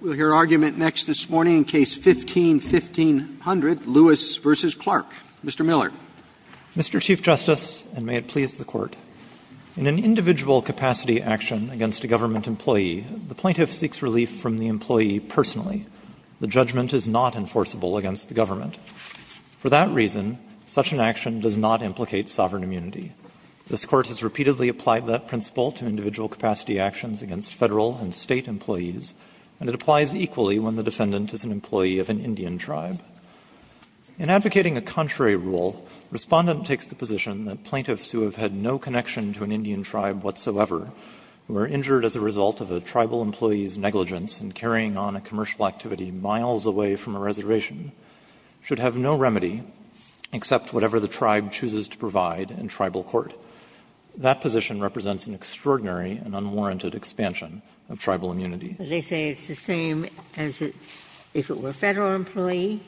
We'll hear argument next this morning in Case No. 15-1500, Lewis v. Clarke. Mr. Miller. Mr. Chief Justice, and may it please the Court, in an individual capacity action against a government employee, the plaintiff seeks relief from the employee personally. The judgment is not enforceable against the government. For that reason, such an action does not implicate sovereign immunity. This Court has repeatedly applied that principle to individual capacity actions against Federal and State employees, and it applies equally when the defendant is an employee of an Indian tribe. In advocating a contrary rule, Respondent takes the position that plaintiffs who have had no connection to an Indian tribe whatsoever, who are injured as a result of a tribal employee's negligence in carrying on a commercial activity miles away from a reservation, should have no remedy except whatever the tribe chooses to provide in tribal court. That position represents an extraordinary and unwarranted expansion of tribal immunity. Ginsburg. They say it's the same as if it were a Federal employee,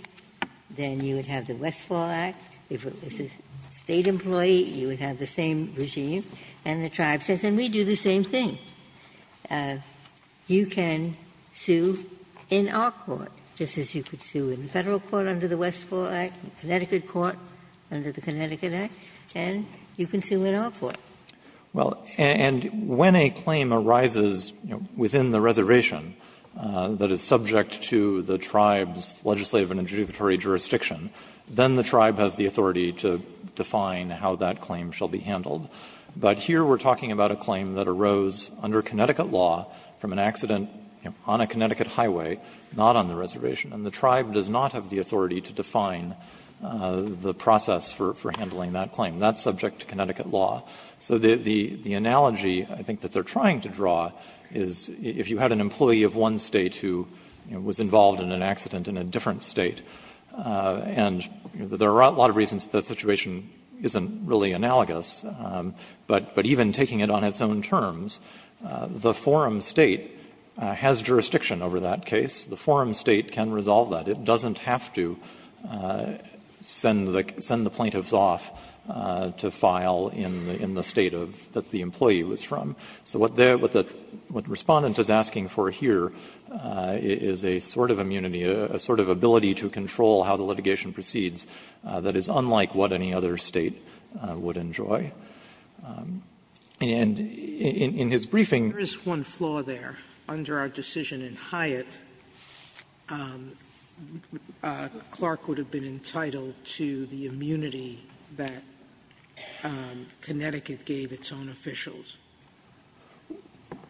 then you would have the Westfall Act. If it was a State employee, you would have the same regime. And the tribe says, and we do the same thing. You can sue in our court, just as you could sue in the Federal court under the Westfall Act, Connecticut court under the Connecticut Act, and you can sue in our court. Well, and when a claim arises within the reservation that is subject to the tribe's legislative and adjudicatory jurisdiction, then the tribe has the authority to define how that claim shall be handled. But here we're talking about a claim that arose under Connecticut law from an accident on a Connecticut highway, not on the reservation, and the tribe does not have the authority to define the process for handling that claim. That's subject to Connecticut law. So the analogy, I think, that they're trying to draw is if you had an employee of one State who was involved in an accident in a different State, and there are a lot of reasons that situation isn't really analogous, but even taking it on its own terms, the forum State has jurisdiction over that case. The forum State can resolve that. It doesn't have to send the plaintiffs off to file in the State of the employee was from. So what the Respondent is asking for here is a sort of immunity, a sort of ability to control how the litigation proceeds that is unlike what any other State would enjoy. And in his briefing he said that there is one flaw there under our decision in Hyatt that Clark would have been entitled to the immunity that Connecticut gave its own officials.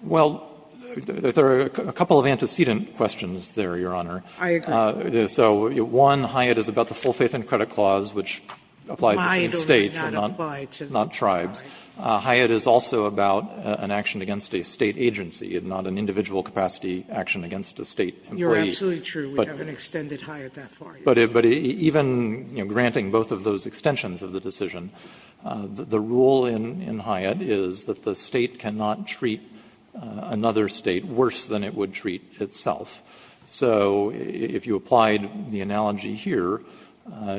Well, there are a couple of antecedent questions there, Your Honor. I agree. So one, Hyatt is about the full faith and credit clause which applies to the State and not tribes. Hyatt is also about an action against a State agency and not an individual capacity action against a State employee. Sotomayor, you're absolutely true, we haven't extended Hyatt that far. But even granting both of those extensions of the decision, the rule in Hyatt is that the State cannot treat another State worse than it would treat itself. So if you applied the analogy here,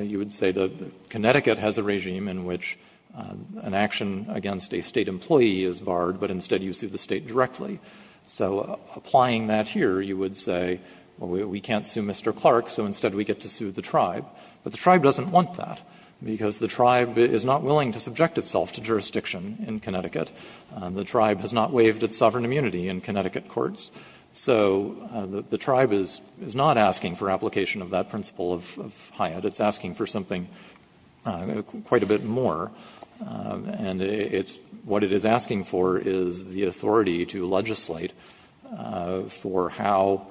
you would say that Connecticut has a regime in which an action against a State employee is barred, but instead you sue the State directly. So applying that here, you would say, well, we can't sue Mr. Clark, so instead we get to sue the tribe. But the tribe doesn't want that, because the tribe is not willing to subject itself to jurisdiction in Connecticut. The tribe has not waived its sovereign immunity in Connecticut courts. So the tribe is not asking for application of that principle of Hyatt. It's asking for something quite a bit more. And it's what it is asking for is the authority to legislate for how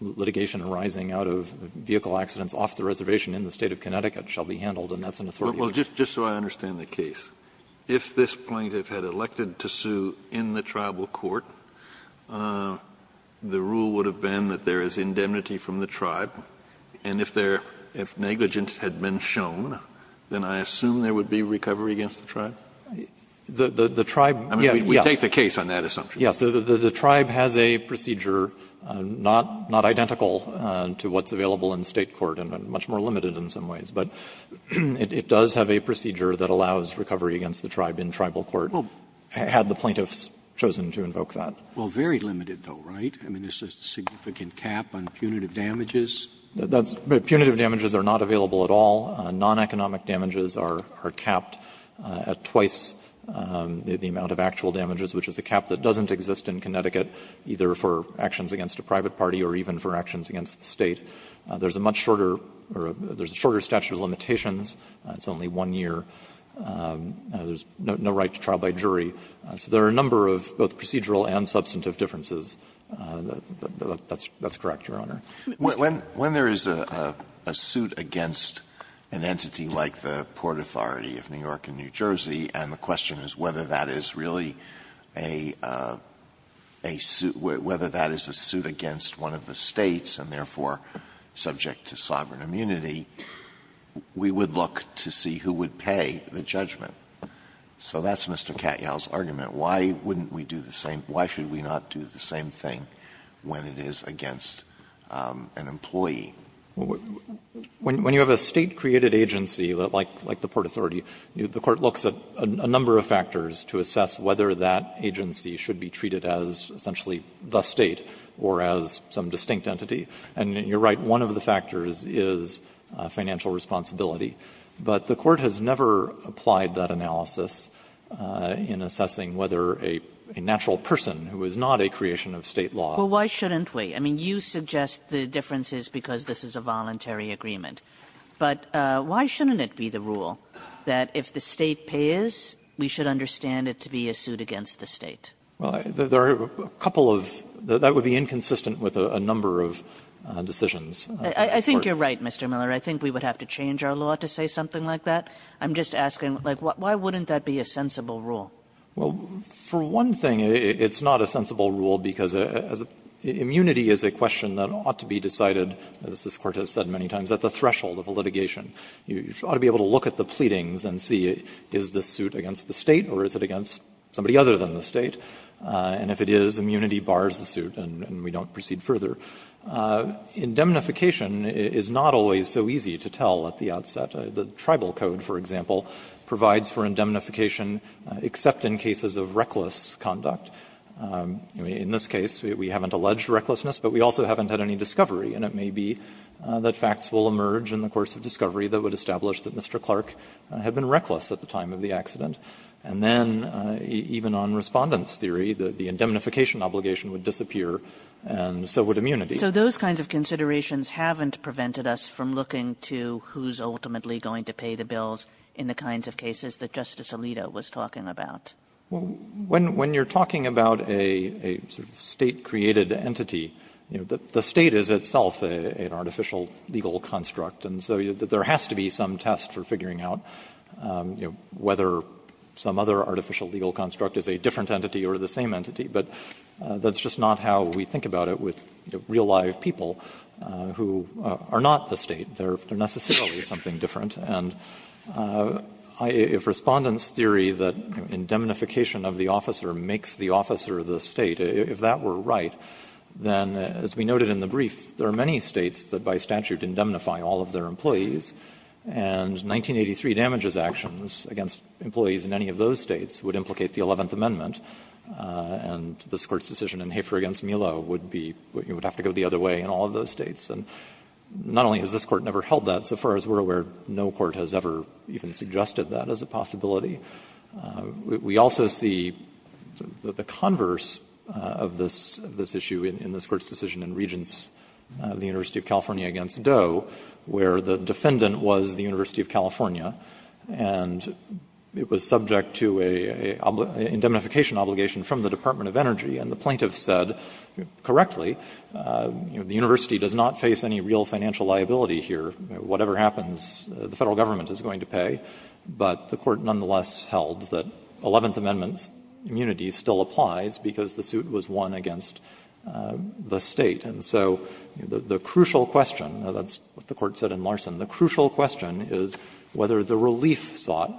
litigation arising out of vehicle accidents off the reservation in the State of Connecticut shall be handled, and that's an authority. Kennedy, just so I understand the case, if this plaintiff had elected to sue in the tribal court, the rule would have been that there is indemnity from the tribe, and if negligence had been shown, then I assume there would be recovery against the tribe? Miller, I mean, we take the case on that assumption. Miller, yes. The tribe has a procedure, not identical to what's available in State court, and much more limited in some ways, but it does have a procedure that allows recovery against the tribe in tribal court, had the plaintiffs chosen to invoke that. Well, very limited, though, right? I mean, there's a significant cap on punitive damages. That's right. Punitive damages are not available at all. Non-economic damages are capped at twice the amount of actual damages, which is a cap that doesn't exist in Connecticut, either for actions against a private party or even for actions against the State. There's a much shorter or there's a shorter statute of limitations. It's only one year. There's no right to trial by jury. So there are a number of both procedural and substantive differences. That's correct, Your Honor. When there is a suit against an entity like the Port Authority of New York and New Jersey, and the question is whether that is really a suit, whether that is a suit against one of the States, and therefore subject to sovereign immunity, we would look to see who would pay the judgment. Why wouldn't we do the same? Why should we not do the same thing when it is against an employee? When you have a State-created agency like the Port Authority, the Court looks at a number of factors to assess whether that agency should be treated as essentially the State or as some distinct entity. And you're right, one of the factors is financial responsibility. But the Court has never applied that analysis in assessing whether a natural person who is not a creation of State law. Kagan. Well, why shouldn't we? I mean, you suggest the difference is because this is a voluntary agreement. But why shouldn't it be the rule that if the State pays, we should understand it to be a suit against the State? Well, there are a couple of that would be inconsistent with a number of decisions. I think you're right, Mr. Miller. I think we would have to change our law to say something like that. I'm just asking, like, why wouldn't that be a sensible rule? Well, for one thing, it's not a sensible rule because immunity is a question that ought to be decided, as this Court has said many times, at the threshold of a litigation. You ought to be able to look at the pleadings and see is this suit against the State or is it against somebody other than the State. And if it is, immunity bars the suit and we don't proceed further. Indemnification is not always so easy to tell at the outset. The Tribal Code, for example, provides for indemnification except in cases of reckless conduct. In this case, we haven't alleged recklessness, but we also haven't had any discovery. And it may be that facts will emerge in the course of discovery that would establish that Mr. Clark had been reckless at the time of the accident. And then even on Respondent's theory, the indemnification obligation would disappear and so would immunity. Kagan. So those kinds of considerations haven't prevented us from looking to who's ultimately going to pay the bills in the kinds of cases that Justice Alito was talking about? Well, when you are talking about a State-created entity, you know, the State is itself an artificial legal construct and so there has to be some test for figuring out, you know, whether some other artificial legal construct is a different entity or the same entity. But that's just not how we think about it with real-life people who are not the State. They are necessarily something different. And if Respondent's theory that indemnification of the officer makes the officer the State, if that were right, then, as we noted in the brief, there are many States that by statute indemnify all of their employees, and 1983 damages actions against employees in any of those States would implicate the Eleventh Amendment. And this Court's decision in Hafer v. Millo would be you would have to go the other way in all of those States. And not only has this Court never held that, so far as we are aware, no court has ever even suggested that as a possibility. We also see the converse of this issue in this Court's decision in Regents, the University of California v. Doe, where the defendant was the University of California and it was an obligation from the Department of Energy, and the plaintiff said correctly, you know, the University does not face any real financial liability here. Whatever happens, the Federal Government is going to pay. But the Court nonetheless held that Eleventh Amendment's immunity still applies because the suit was won against the State. And so the crucial question, and that's what the Court said in Larson, the crucial question is whether the relief sought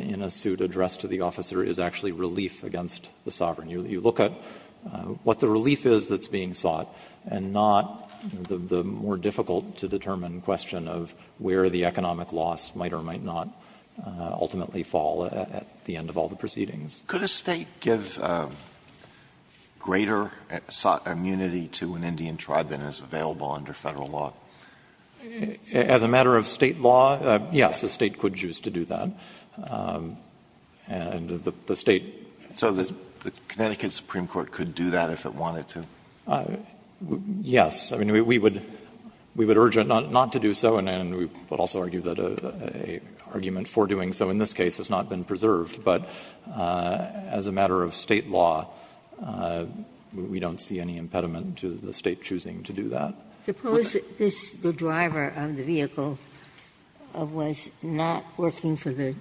in a suit addressed to the officer is actually a relief against the sovereign. You look at what the relief is that's being sought and not the more difficult to determine question of where the economic loss might or might not ultimately fall at the end of all the proceedings. Alito, could a State give greater sought immunity to an Indian tribe than is available under Federal law? As a matter of State law, yes, a State could choose to do that. And the State can't. Alito, so the Connecticut Supreme Court could do that if it wanted to? Yes. I mean, we would urge it not to do so, and we would also argue that an argument for doing so in this case has not been preserved. But as a matter of State law, we don't see any impediment to the State choosing to do that. Suppose the driver of the vehicle was not working for the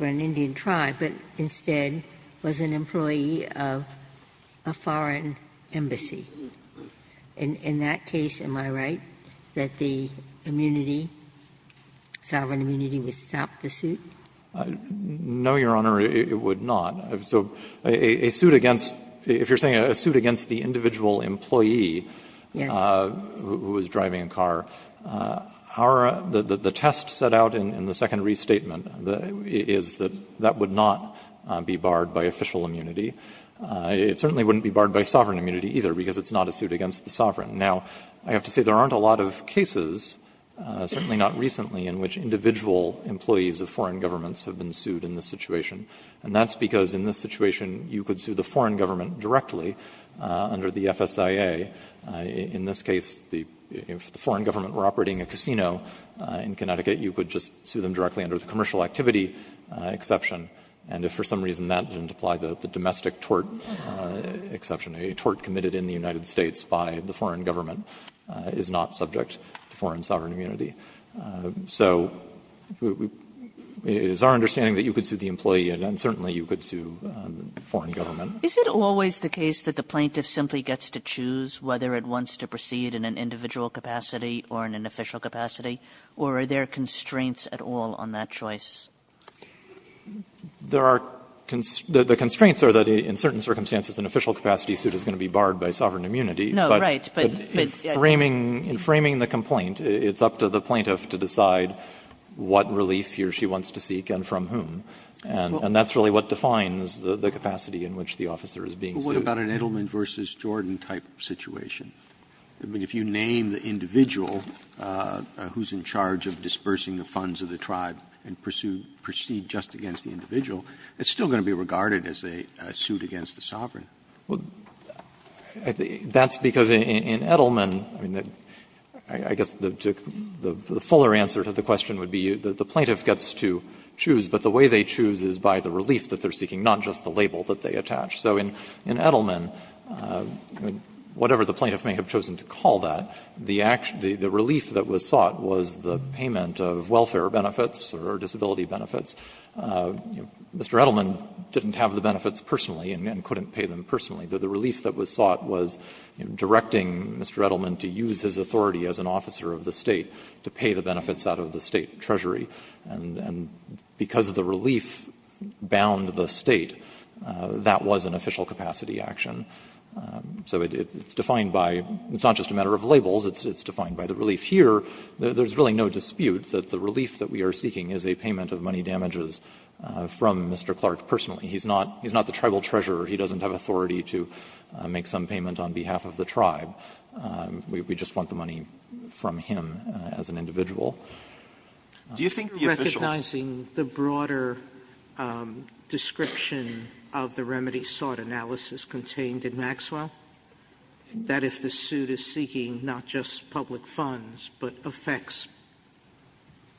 Indian tribe, but instead was an employee of a foreign embassy. In that case, am I right that the immunity, sovereign immunity, would stop the suit? No, Your Honor, it would not. So a suit against the individual employee. Yes. Who was driving a car. The test set out in the second restatement is that that would not be barred by official immunity. It certainly wouldn't be barred by sovereign immunity, either, because it's not a suit against the sovereign. Now, I have to say there aren't a lot of cases, certainly not recently, in which individual employees of foreign governments have been sued in this situation. And that's because in this situation you could sue the foreign government directly under the FSIA. In this case, if the foreign government were operating a casino in Connecticut, you could just sue them directly under the commercial activity exception. And if for some reason that didn't apply, the domestic tort exception, a tort committed in the United States by the foreign government is not subject to foreign sovereign immunity. So it is our understanding that you could sue the employee, and certainly you could sue the foreign government. Kagan. Kagan. Kagan. Is it always the case that the plaintiff simply gets to choose whether it wants to proceed in an individual capacity or in an official capacity, or are there constraints at all on that choice? There are – the constraints are that in certain circumstances an official capacity suit is going to be barred by sovereign immunity. No, right. But in framing the complaint, it's up to the plaintiff to decide what relief he or she wants to seek and from whom. And that's really what defines the capacity in which the officer is being sued. But what about an Edelman v. Jordan type situation? I mean, if you name the individual who's in charge of dispersing the funds of the tribe and proceed just against the individual, it's still going to be regarded as a suit against the sovereign. Well, that's because in Edelman, I mean, I guess the fuller answer to the question would be that the plaintiff gets to choose, but the way they choose is by the relief that they're seeking, not just the label that they attach. So in Edelman, whatever the plaintiff may have chosen to call that, the relief that was sought was the payment of welfare benefits or disability benefits. Mr. Edelman didn't have the benefits personally and couldn't pay them personally. The relief that was sought was directing Mr. Edelman to use his authority as an officer of the State to pay the benefits out of the State treasury. And because the relief bound the State, that was an official capacity action. So it's defined by, it's not just a matter of labels, it's defined by the relief. Here, there's really no dispute that the relief that we are seeking is a payment of money damages from Mr. Clark personally. He's not the tribal treasurer. He doesn't have authority to make some payment on behalf of the tribe. We just want the money from him as an individual. Sotomayor, recognizing the broader description of the remedy sought analysis contained in Maxwell, that if the suit is seeking not just public funds, but affects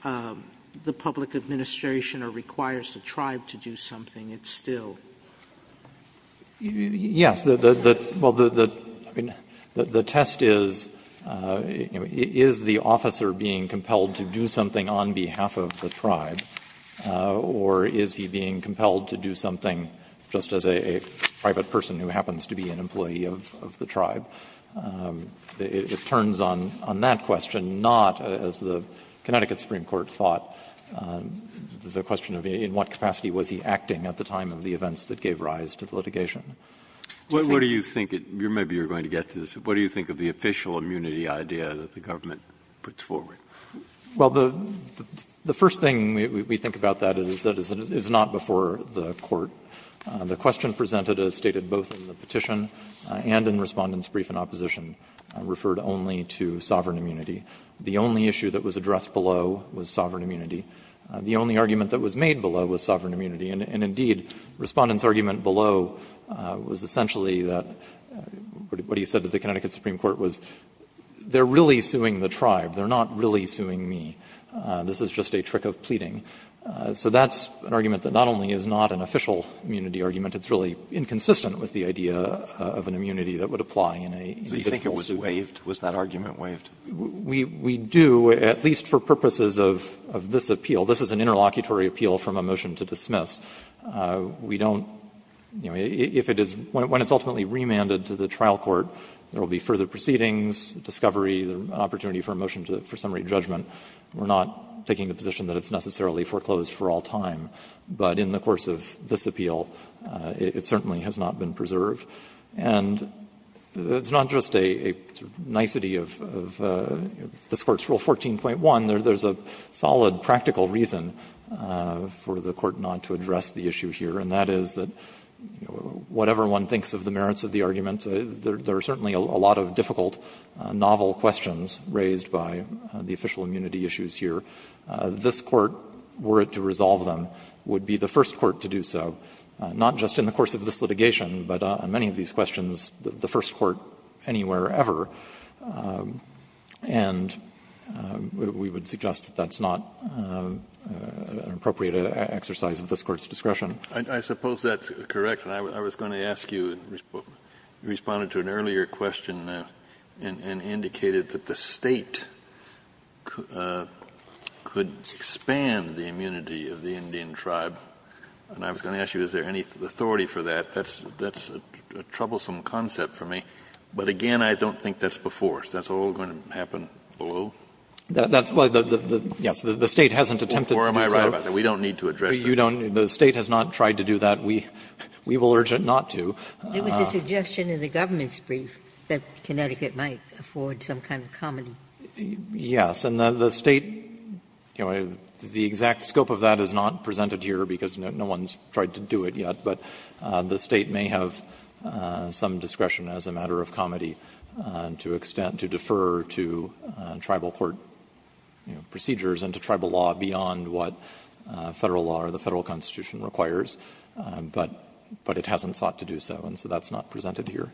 the public administration or requires the tribe to do something, it's still? Yes. The test is, is the officer being compelled to do something on behalf of the tribe, or is he being compelled to do something just as a private person who happens to be an employee of the tribe? It turns on that question, not, as the Connecticut Supreme Court thought, the question of in what capacity was he acting at the time of the events that gave rise to the litigation. What do you think, maybe you're going to get to this, but what do you think of the official immunity idea that the government puts forward? Well, the first thing we think about that is that it's not before the Court. The question presented as stated both in the petition and in Respondent's brief in opposition referred only to sovereign immunity. The only issue that was addressed below was sovereign immunity. The only argument that was made below was sovereign immunity. And indeed, Respondent's argument below was essentially that what he said to the Connecticut Supreme Court was, they're really suing the tribe, they're not really suing me, this is just a trick of pleading. So that's an argument that not only is not an official immunity argument, it's really inconsistent with the idea of an immunity that would apply in a judicial suit. So you think it was waived? Was that argument waived? We do, at least for purposes of this appeal, this is an interlocutory appeal from a motion to dismiss. We don't, you know, if it is, when it's ultimately remanded to the trial court, there will be further proceedings, discovery, the opportunity for a motion for summary judgment. We're not taking the position that it's necessarily foreclosed for all time. But in the course of this appeal, it certainly has not been preserved. And it's not just a nicety of this Court's Rule 14.1. There's a solid practical reason for the Court not to address the issue here, and that is that whatever one thinks of the merits of the argument, there are certainly a lot of difficult, novel questions raised by the official immunity issues here. This Court, were it to resolve them, would be the first court to do so, not just in the course of this litigation, but on many of these questions, the first court anywhere ever, and we would suggest that that's not an appropriate exercise of this Court's discretion. Kennedy, I suppose that's correct, and I was going to ask you, you responded to an earlier question and indicated that the State could expand the immunity of the Indian tribe. And I was going to ask you, is there any authority for that? That's a troublesome concept for me. But again, I don't think that's before. Is that all going to happen below? Miller, that's why the State hasn't attempted to do so. Kennedy, before am I right about that? We don't need to address this? Miller, you don't. The State has not tried to do that. We will urge it not to. Ginsburg, it was a suggestion in the government's brief that Connecticut might afford some kind of comedy. Miller, yes. And the State, you know, the exact scope of that is not presented here, because no one's tried to do it yet. But the State may have some discretion as a matter of comedy to defer to tribal court procedures and to tribal law beyond what Federal law or the Federal Constitution requires, but it hasn't sought to do so, and so that's not presented here.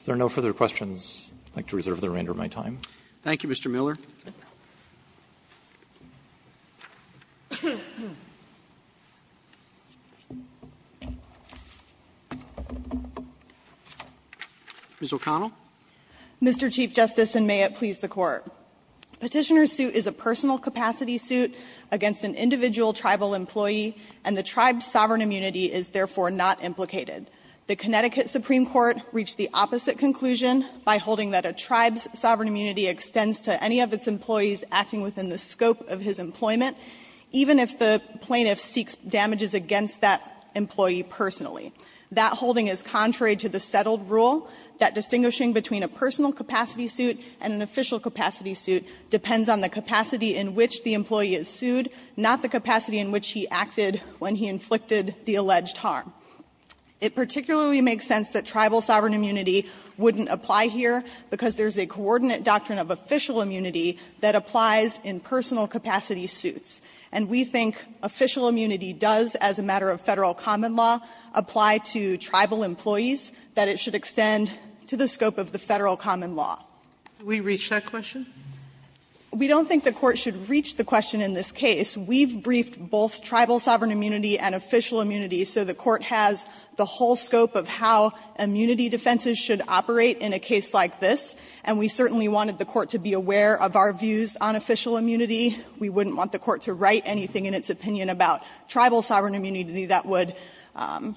If there are no further questions, I'd like to reserve the remainder of my time. Roberts. Thank you, Mr. Miller. Ms. O'Connell. Mr. Chief Justice, and may it please the Court. Petitioner's suit is a personal capacity suit against an individual tribal employee, and the tribe's sovereign immunity is therefore not implicated. The Connecticut Supreme Court reached the opposite conclusion by holding that a tribe's sovereign immunity extends to any of its employees acting within the scope of his employment, even if the plaintiff seeks damages against that employee personally. That holding is contrary to the settled rule that distinguishing between a personal capacity suit and an official capacity suit depends on the capacity in which the employee is sued, not the capacity in which he acted when he inflicted the alleged harm. It particularly makes sense that tribal sovereign immunity wouldn't apply here because there's a coordinate doctrine of official immunity that applies in personal capacity suits. And we think official immunity does, as a matter of Federal common law, apply to tribal employees that it should extend to the scope of the Federal common law. Sotomayor, did we reach that question? We don't think the Court should reach the question in this case. We've briefed both tribal sovereign immunity and official immunity, so the Court has the whole scope of how immunity defenses should operate in a case like this. And we certainly wanted the Court to be aware of our views on official immunity. We wouldn't want the Court to write anything in its opinion about tribal sovereign immunity that would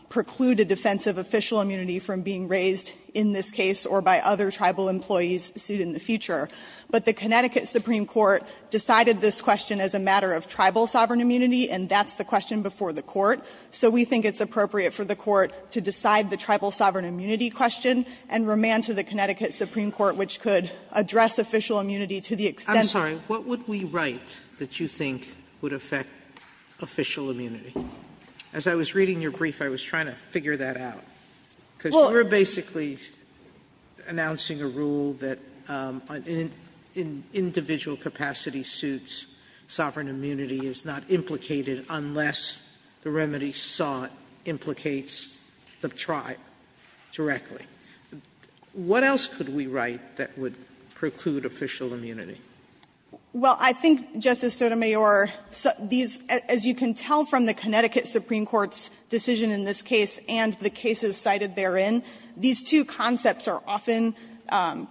preclude a defense of official immunity from being raised in this case or by other tribal employees sued in the future. But the Connecticut Supreme Court decided this question as a matter of tribal sovereign immunity, and that's the question before the Court. So we think it's appropriate for the Court to decide the tribal sovereign immunity question and remand to the Connecticut Supreme Court, which could address official immunity to the extent that it would. Sotomayor, what would we write that you think would affect official immunity? As I was reading your brief, I was trying to figure that out. Because we're basically announcing a rule that in individual capacity suits, sovereign immunity is not implicated unless the remedy sought implicates the tribe directly. What else could we write that would preclude official immunity? Well, I think, Justice Sotomayor, these, as you can tell from the Connecticut Supreme Court's decision in this case and the cases cited therein, these two concepts are often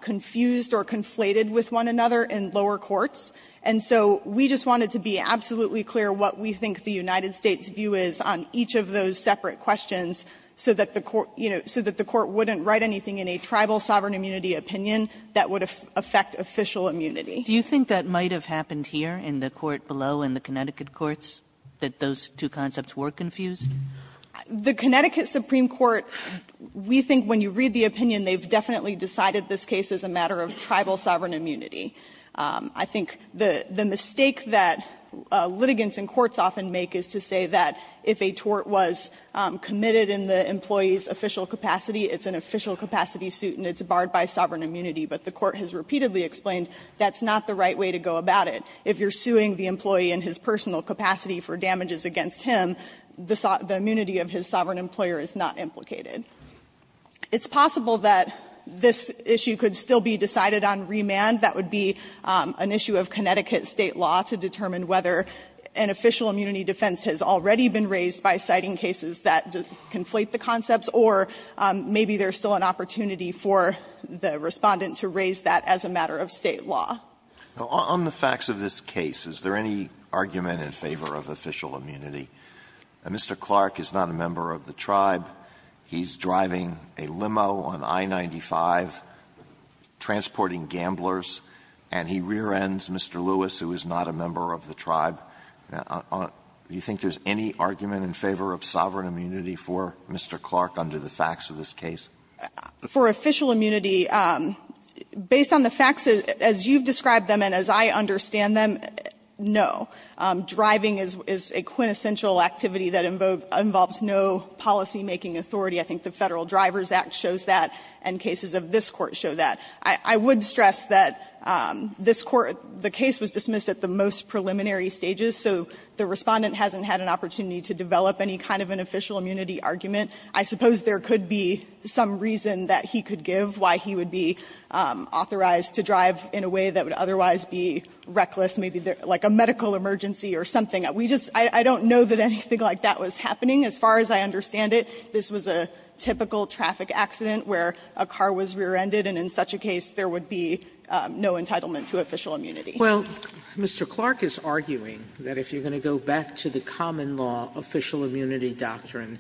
confused or conflated with one another in lower courts. And so we just wanted to be absolutely clear what we think the United States' view is on each of those separate questions so that the Court, you know, so that the Court wouldn't write anything in a tribal sovereign immunity opinion that would affect official immunity. Kagan. Do you think that might have happened here in the court below in the Connecticut courts, that those two concepts were confused? The Connecticut Supreme Court, we think when you read the opinion, they've definitely decided this case is a matter of tribal sovereign immunity. I think the mistake that litigants in courts often make is to say that if a tort was committed in the employee's official capacity, it's an official capacity suit and it's barred by sovereign immunity. But the Court has repeatedly explained that's not the right way to go about it. If you're suing the employee in his personal capacity for damages against him, the immunity of his sovereign employer is not implicated. It's possible that this issue could still be decided on remand. That would be an issue of Connecticut State law to determine whether an official immunity defense has already been raised by citing cases that conflate the concepts, or maybe there's still an opportunity for the Respondent to raise that as a matter of State law. Alito, on the facts of this case, is there any argument in favor of official immunity? Mr. Clark is not a member of the tribe. He's driving a limo on I-95, transporting gamblers, and he rear-ends Mr. Lewis, who is not a member of the tribe. Do you think there's any argument in favor of sovereign immunity for Mr. Clark under the facts of this case? For official immunity, based on the facts as you've described them and as I understand them, no. Driving is a quintessential activity that involves no policymaking authority. I think the Federal Drivers Act shows that, and cases of this Court show that. I would stress that this Court, the case was dismissed at the most preliminary stages, so the Respondent hasn't had an opportunity to develop any kind of an official immunity argument. I suppose there could be some reason that he could give why he would be authorized to drive in a way that would otherwise be reckless, maybe like a medical emergency or something. We just, I don't know that anything like that was happening as far as I understand it. This was a typical traffic accident where a car was rear-ended, and in such a case there would be no entitlement to official immunity. Sotomayor, Mr. Clark is arguing that if you're going to go back to the common law official immunity doctrine,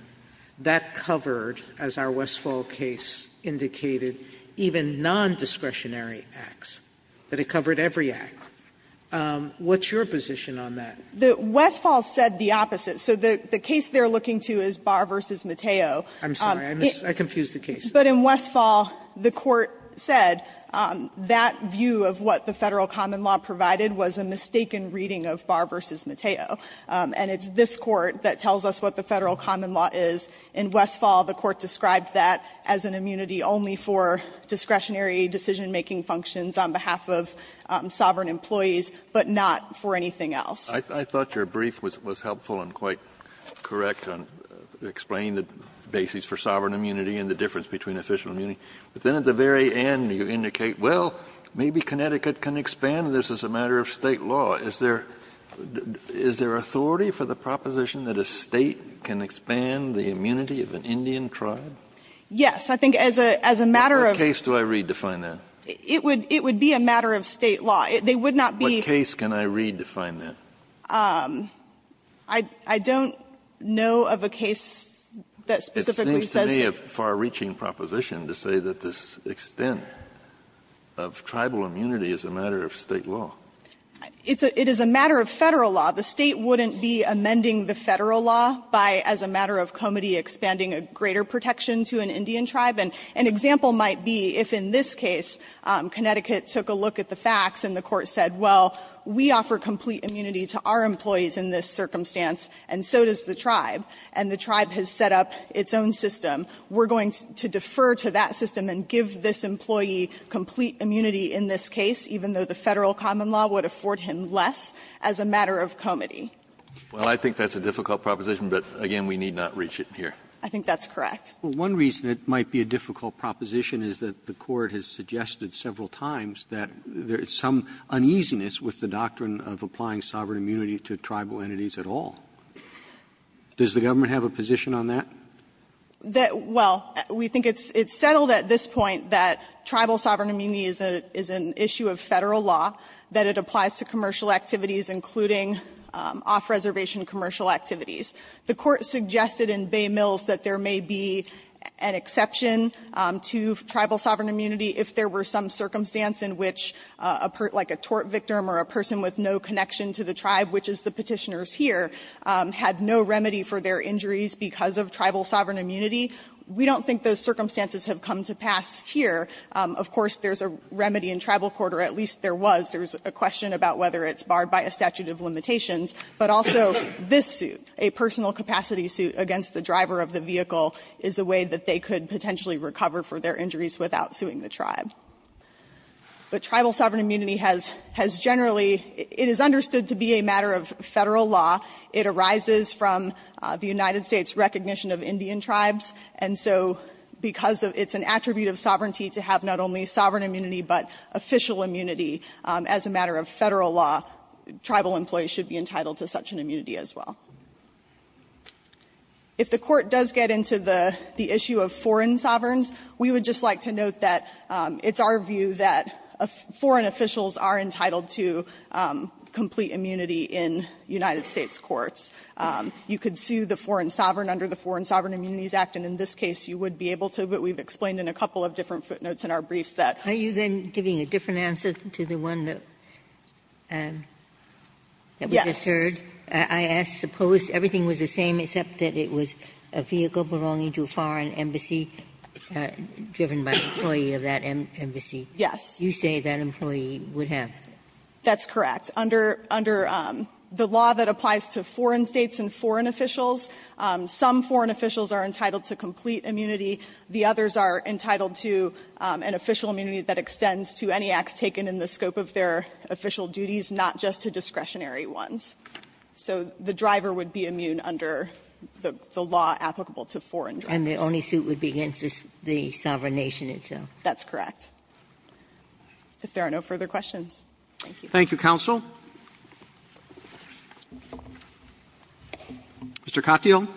that covered, as our Westfall case indicated, even nondiscretionary acts, that it covered every act. What's your position on that? Westfall said the opposite. So the case they're looking to is Barr v. Mateo. I'm sorry, I confused the case. But in Westfall, the Court said that view of what the Federal common law provided was a mistaken reading of Barr v. Mateo. And it's this Court that tells us what the Federal common law is. In Westfall, the Court described that as an immunity only for discretionary decision-making functions on behalf of sovereign employees, but not for anything else. Kennedy, I thought your brief was helpful and quite correct on explaining the basis for sovereign immunity and the difference between official immunity. But then at the very end you indicate, well, maybe Connecticut can expand this as a matter of State law. Is there authority for the proposition that a State can expand the immunity of an Indian tribe? Yes. I think as a matter of the State law. What case do I redefine that? It would be a matter of State law. They would not be. What case can I redefine that? I don't know of a case that specifically says that. It seems to me a far-reaching proposition to say that this extent of tribal immunity is a matter of State law. It is a matter of Federal law. The State wouldn't be amending the Federal law by, as a matter of comity, expanding a greater protection to an Indian tribe. An example might be if in this case Connecticut took a look at the facts and the Court has said, well, we offer complete immunity to our employees in this circumstance and so does the tribe, and the tribe has set up its own system. We're going to defer to that system and give this employee complete immunity in this case, even though the Federal common law would afford him less, as a matter of comity. Well, I think that's a difficult proposition, but again, we need not reach it here. I think that's correct. Well, one reason it might be a difficult proposition is that the Court has suggested several times that there is some uneasiness with the doctrine of applying sovereign immunity to tribal entities at all. Does the government have a position on that? Well, we think it's settled at this point that tribal sovereign immunity is an issue of Federal law, that it applies to commercial activities, including off-reservation commercial activities. The Court suggested in Bay Mills that there may be an exception to tribal sovereign immunity if there were some circumstance in which, like a tort victim or a person with no connection to the tribe, which is the Petitioners here, had no remedy for their injuries because of tribal sovereign immunity. We don't think those circumstances have come to pass here. Of course, there's a remedy in tribal court, or at least there was. There was a question about whether it's barred by a statute of limitations. But also, this suit, a personal capacity suit against the driver of the vehicle, is a way that they could potentially recover for their injuries without suing the tribe. But tribal sovereign immunity has generally, it is understood to be a matter of Federal law. It arises from the United States' recognition of Indian tribes. And so because it's an attribute of sovereignty to have not only sovereign immunity, but official immunity as a matter of Federal law, tribal employees should be entitled to such an immunity as well. If the Court does get into the issue of foreign sovereigns, we would just like to note that it's our view that foreign officials are entitled to complete immunity in United States courts. You could sue the foreign sovereign under the Foreign Sovereign Immunities Act, and in this case you would be able to, but we've explained in a couple of different footnotes in our briefs that. Ginsburg. Yes. I asked, suppose everything was the same except that it was a vehicle belonging to a foreign embassy, driven by an employee of that embassy. Yes. You say that employee would have. That's correct. Under the law that applies to foreign States and foreign officials, some foreign officials are entitled to complete immunity. The others are entitled to an official immunity that extends to any acts taken in the scope of their official duties, not just to discretionary ones. So the driver would be immune under the law applicable to foreign drivers. And the only suit would be against the sovereign nation itself. That's correct. If there are no further questions. Thank you. Thank you, counsel. Mr. Katyal.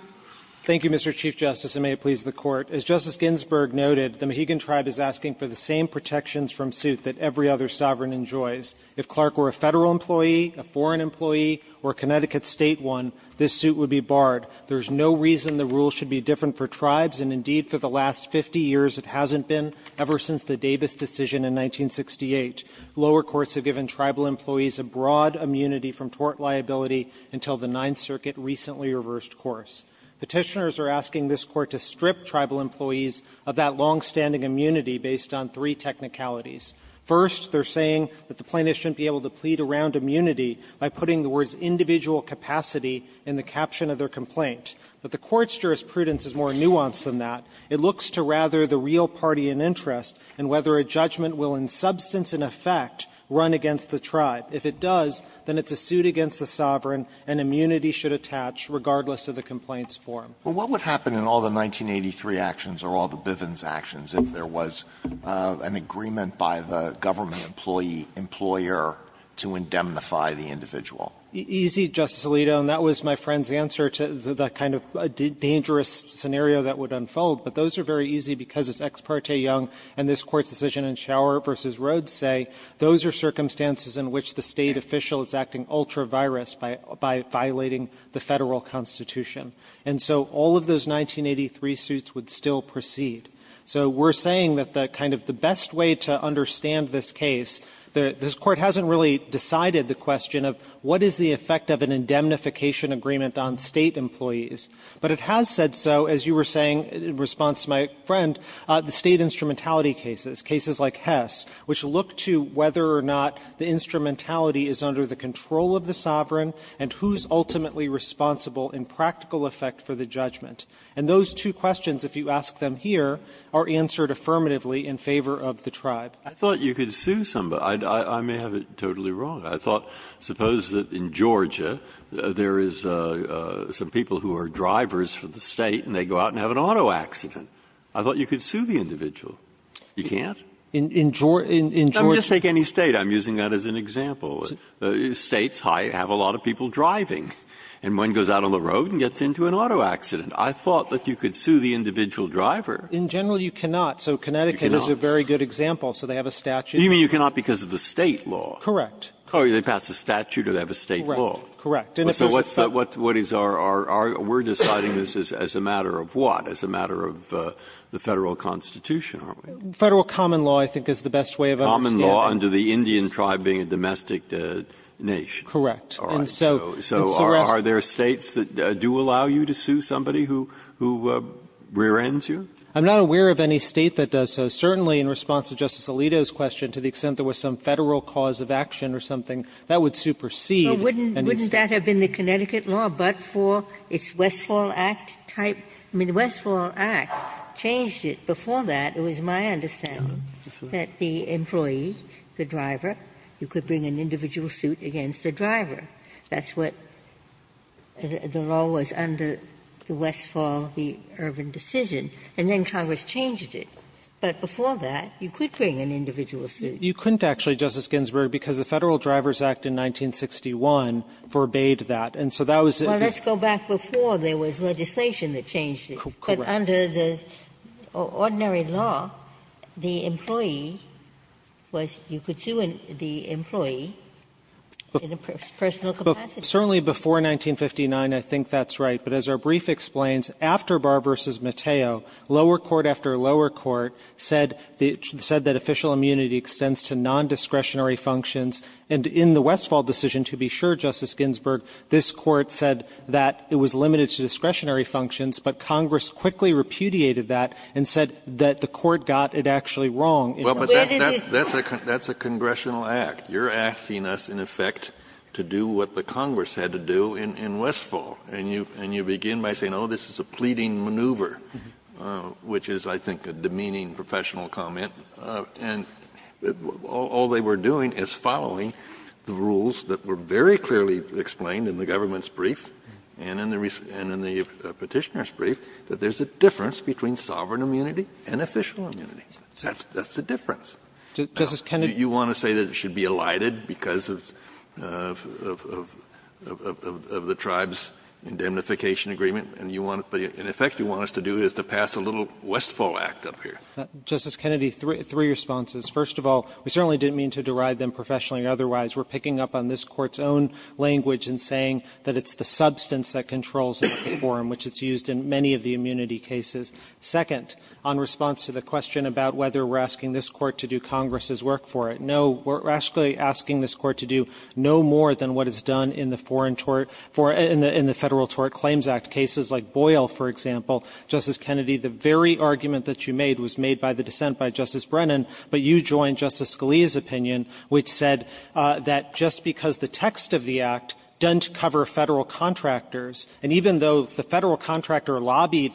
Thank you, Mr. Chief Justice, and may it please the Court. As Justice Ginsburg noted, the Mohegan Tribe is asking for the same protections from suit that every other sovereign enjoys. If Clark were a Federal employee, a foreign employee, or a Connecticut State one, this suit would be barred. There's no reason the rule should be different for tribes, and indeed, for the last 50 years, it hasn't been, ever since the Davis decision in 1968. Lower courts have given tribal employees a broad immunity from tort liability until the Ninth Circuit recently reversed course. Petitioners are asking this Court to strip tribal employees of that longstanding immunity based on three technicalities. First, they're saying that the plaintiff shouldn't be able to plead around immunity by putting the words individual capacity in the caption of their complaint. But the Court's jurisprudence is more nuanced than that. It looks to rather the real party in interest and whether a judgment will in substance and effect run against the tribe. If it does, then it's a suit against the sovereign, and immunity should attach regardless of the complaint's form. Well, what would happen in all the 1983 actions or all the Bivens actions if there was an agreement by the government employee, employer, to indemnify the individual? Easy, Justice Alito, and that was my friend's answer to the kind of dangerous scenario that would unfold. But those are very easy because it's ex parte young, and this Court's decision in Schauer v. Rhodes say those are circumstances in which the State official is acting ultra-virus by violating the Federal Constitution. And so all of those 1983 suits would still proceed. So we're saying that the kind of the best way to understand this case, this Court hasn't really decided the question of what is the effect of an indemnification agreement on State employees. But it has said so, as you were saying in response to my friend, the State instrumentality cases, cases like Hess, which look to whether or not the instrumentality is under the control of the sovereign and who's ultimately responsible in practical effect for the judgment. And those two questions, if you ask them here, are answered affirmatively in favor of the Tribe. Breyer. I thought you could sue somebody. I may have it totally wrong. I thought, suppose that in Georgia there is some people who are drivers for the State and they go out and have an auto accident. I thought you could sue the individual. You can't? In Georgia? In Georgia? Just take any State. I'm using that as an example. States have a lot of people driving, and one goes out on the road and gets into an auto accident. I thought that you could sue the individual driver. In general, you cannot. So Connecticut is a very good example, so they have a statute. You mean you cannot because of the State law? Correct. Oh, they pass a statute or they have a State law. Correct. And if it's a State law. So what is our argument? We're deciding this as a matter of what? As a matter of the Federal Constitution, aren't we? Federal common law, I think, is the best way of understanding it. Common law under the Indian Tribe being a domestic nation. Correct. All right. So are there States that do allow you to sue somebody who rear-ends you? I'm not aware of any State that does so. Certainly, in response to Justice Alito's question, to the extent there was some Federal cause of action or something, that would supersede. Well, wouldn't that have been the Connecticut law, but for its Westfall Act type? I mean, the Westfall Act changed it. Before that, it was my understanding that the employee, the driver, you could bring an individual suit against the driver. That's what the law was under the Westfall, the Irvin decision, and then Congress changed it. But before that, you could bring an individual suit. You couldn't, actually, Justice Ginsburg, because the Federal Drivers Act in 1961 forbade that. And so that was the case. Well, let's go back before there was legislation that changed it. Correct. But under the ordinary law, the employee was you could sue the employee in a personal capacity. Certainly before 1959, I think that's right. But as our brief explains, after Barr v. Mateo, lower court after lower court said that official immunity extends to nondiscretionary functions. And in the Westfall decision, to be sure, Justice Ginsburg, this Court said that it was limited to discretionary functions, but Congress quickly repudiated that and said that the Court got it actually wrong. Well, but that's a congressional act. You're asking us, in effect, to do what the Congress had to do in Westfall. And you begin by saying, oh, this is a pleading maneuver, which is, I think, a demeaning professional comment. And all they were doing is following the rules that were very clearly explained in the government's brief and in the Petitioner's brief, that there's a difference between sovereign immunity and official immunity. That's the difference. Justice Kennedy. You want to say that it should be elided because of the tribe's indemnification agreement? And you want to do, in effect, you want us to do is to pass a little Westfall act up here. Justice Kennedy, three responses. First of all, we certainly didn't mean to derive them professionally or otherwise. We're picking up on this Court's own language and saying that it's the substance that controls the forum, which it's used in many of the immunity cases. Second, on response to the question about whether we're asking this Court to do Congress's work for it, no, we're actually asking this Court to do no more than what it's done in the foreign tort for the Federal Tort Claims Act cases like Boyle, for example. Justice Kennedy, the very argument that you made was made by the dissent by Justice Kagan that just because the text of the act doesn't cover Federal contractors, and even though the Federal contractor lobbied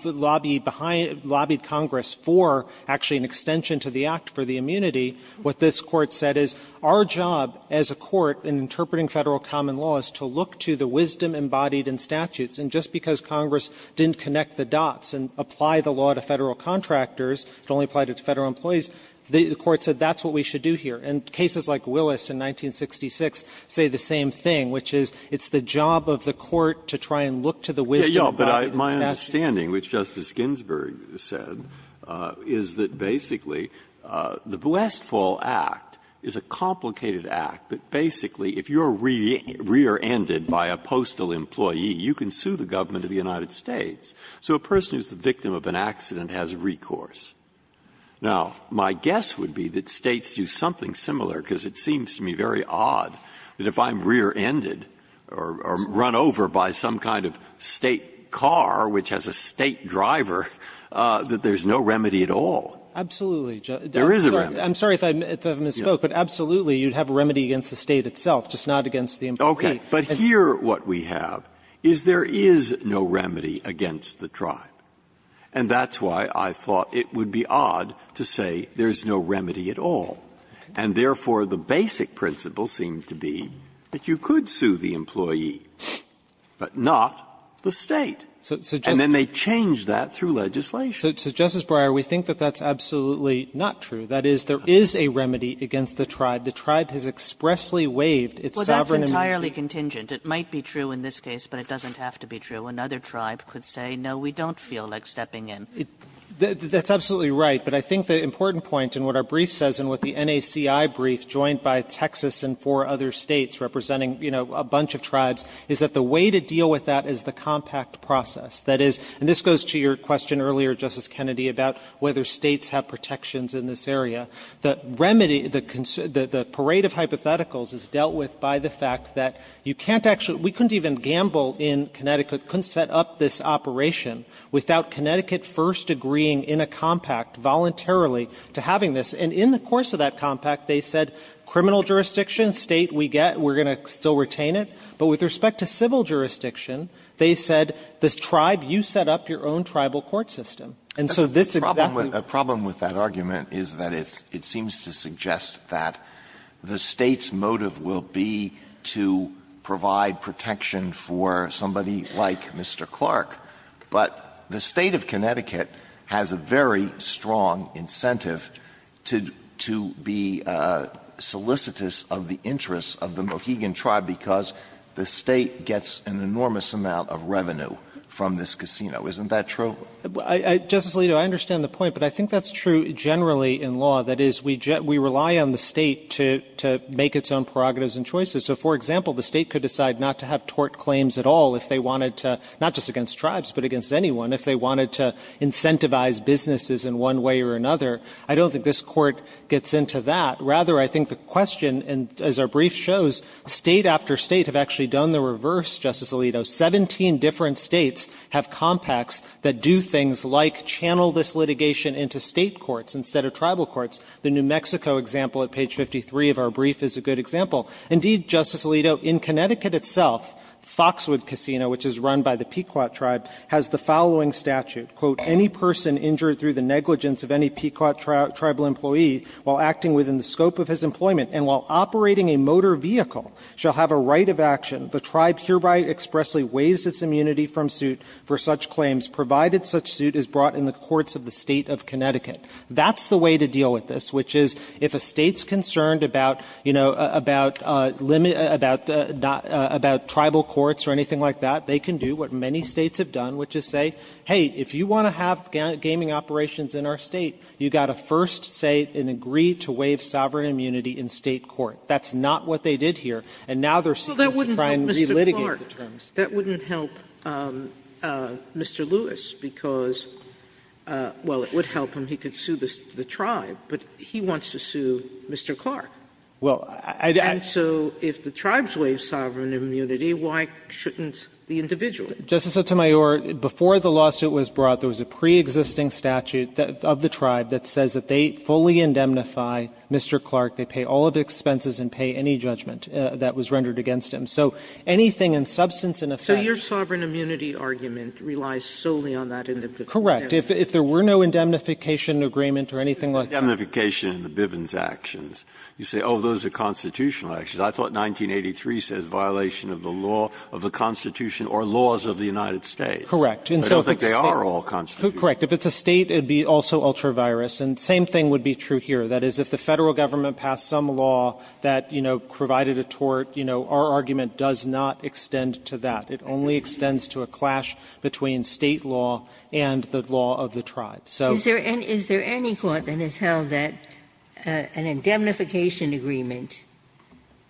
Congress for actually an extension to the act for the immunity, what this Court said is our job as a court in interpreting Federal common law is to look to the wisdom embodied in statutes, and just because Congress didn't connect the dots and apply the law to Federal contractors, it only applied to Federal employees, the Court said that's what we should do here. And cases like Willis in 1966 say the same thing, which is it's the job of the court to try and look to the wisdom embodied in statutes. Breyer, but my understanding, which Justice Ginsburg said, is that basically the Westfall Act is a complicated act that basically, if you're rear-ended by a postal employee, you can sue the government of the United States. So a person who's the victim of an accident has recourse. Now, my guess would be that States do something similar, because it seems to me very odd that if I'm rear-ended or run over by some kind of State car which has a State driver, that there's no remedy at all. There is a remedy. I'm sorry if I misspoke, but absolutely you'd have a remedy against the State itself, just not against the employee. Okay. But here what we have is there is no remedy against the tribe. And that's why I thought it would be odd to say there's no remedy at all. And therefore, the basic principle seemed to be that you could sue the employee, but not the State. And then they changed that through legislation. So, Justice Breyer, we think that that's absolutely not true. That is, there is a remedy against the tribe. The tribe has expressly waived its sovereign immunity. Well, that's entirely contingent. It might be true in this case, but it doesn't have to be true. Another tribe could say, no, we don't feel like stepping in. That's absolutely right. But I think the important point in what our brief says and what the NACI brief, joined by Texas and four other States representing, you know, a bunch of tribes, is that the way to deal with that is the compact process. That is, and this goes to your question earlier, Justice Kennedy, about whether States have protections in this area. The remedy, the parade of hypotheticals is dealt with by the fact that you can't actually, we couldn't even gamble in Connecticut, couldn't set up this operation without Connecticut first agreeing in a compact, voluntarily, to having this. And in the course of that compact, they said, criminal jurisdiction, State, we get, we're going to still retain it. But with respect to civil jurisdiction, they said, this tribe, you set up your own tribal court system. And so this exactly was a problem with that argument is that it's, it seems to suggest that the State's motive will be to provide protection for somebody like Mr. Clark. But the State of Connecticut has a very strong incentive to be solicitous of the interests of the Mohegan tribe because the State gets an enormous amount of revenue from this Isn't that true? Katyal, I understand the point, but I think that's true generally in law. That is, we rely on the State to make its own prerogatives and choices. So, for example, the State could decide not to have tort claims at all if they wanted to, not just against tribes, but against anyone, if they wanted to incentivize businesses in one way or another. I don't think this Court gets into that. Rather, I think the question, and as our brief shows, State after State have actually done the reverse, Justice Alito. Seventeen different States have compacts that do things like channel this litigation into State courts instead of tribal courts. The New Mexico example at page 53 of our brief is a good example. Indeed, Justice Alito, in Connecticut itself, Foxwood Casino, which is run by the Pequot tribe, has the following statute. Quote, ''Any person injured through the negligence of any Pequot tribal employee while acting within the scope of his employment and while operating a motor vehicle shall have a right of action.'' The tribe hereby expressly waived its immunity from suit for such claims, provided such suit is brought in the courts of the State of Connecticut. That's the way to deal with this, which is if a State's concerned about, you know, about tribal courts or anything like that, they can do what many States have done, which is say, hey, if you want to have gaming operations in our State, you've got to first say and agree to waive sovereign immunity in State court. That's not what they did here, and now they're seeking to try and relitigate the terms. Sotomayor, that wouldn't help Mr. Lewis, because, well, it would help him. He could sue the tribe, but he wants to sue Mr. Clark. And so if the tribes waive sovereign immunity, why shouldn't the individual? Katyal, Justice Sotomayor, before the lawsuit was brought, there was a pre-existing statute of the tribe that says that they fully indemnify Mr. Clark. They pay all of the expenses and pay any judgment that was rendered against him. So anything in substance and effect. Sotomayor, so your sovereign immunity argument relies solely on that indemnification? Katyal, Justice Sotomayor, correct. If there were no indemnification agreement or anything like that. Breyer, indemnification in the Bivens actions, you say, oh, those are constitutional actions. I thought 1983 says violation of the law of the Constitution or laws of the United States. Katyal, Justice Sotomayor, correct. Breyer, I don't think they are all constitutional. Katyal, Justice Sotomayor, correct. If it's a State, it would be also ultra-virus, and the same thing would be true here. That is, if the Federal government passed some law that, you know, provided a tort, you know, our argument does not extend to that. It only extends to a clash between State law and the law of the tribe. So. Is there any court that has held that an indemnification agreement,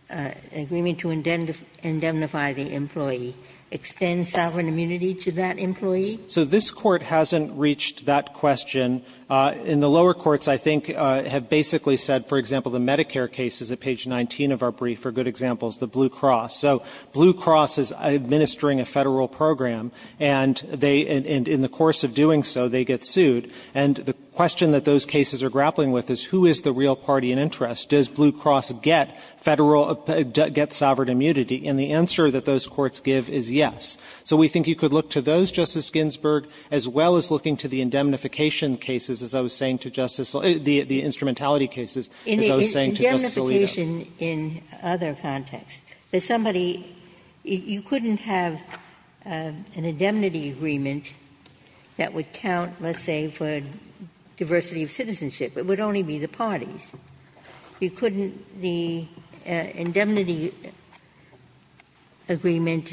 an agreement to indemnify the employee extends sovereign immunity to that employee? So this Court hasn't reached that question. In the lower courts, I think, have basically said, for example, the Medicare cases at page 19 of our brief are good examples, the Blue Cross. So Blue Cross is administering a Federal program, and they, in the course of doing so, they get sued. And the question that those cases are grappling with is who is the real party in interest? Does Blue Cross get Federal, get sovereign immunity? And the answer that those courts give is yes. So we think you could look to those, Justice Ginsburg, as well as looking to the indemnification cases, as I was saying to Justice Li, the instrumentality cases, as I was saying to Justice Alito. Ginsburg. I think we have that question in other contexts. There's somebody you couldn't have an indemnity agreement that would count, let's say, for diversity of citizenship. It would only be the parties. You couldn't the indemnity agreement.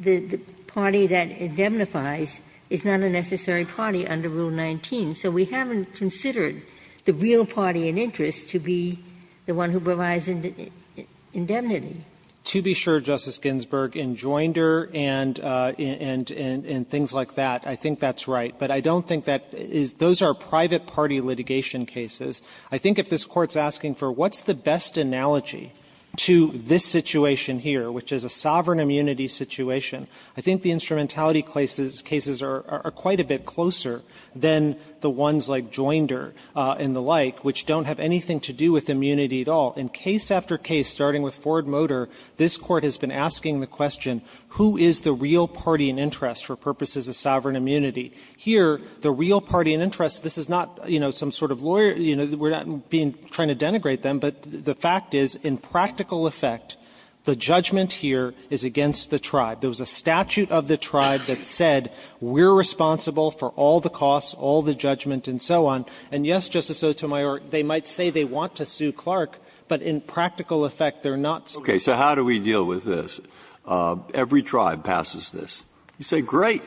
The party that indemnifies is not a necessary party under Rule 19. So we haven't considered the real party in interest to be the one who provides Katyalinikas To be sure, Justice Ginsburg, in Joinder and things like that, I think that's right. But I don't think that is – those are private party litigation cases. I think if this Court's asking for what's the best analogy to this situation here, which is a sovereign immunity situation, I think the instrumentality of these cases are quite a bit closer than the ones like Joinder and the like, which don't have anything to do with immunity at all. In case after case, starting with Ford Motor, this Court has been asking the question, who is the real party in interest for purposes of sovereign immunity? Here, the real party in interest, this is not, you know, some sort of lawyer – you know, we're not being – trying to denigrate them, but the fact is, in practical effect, the judgment here is against the tribe. There was a statute of the tribe that said, we're responsible for all the costs, all the judgment, and so on. And yes, Justice Sotomayor, they might say they want to sue Clark, but in practical effect, they're not suing Clark. Breyer. So how do we deal with this? Every tribe passes this. You say, great,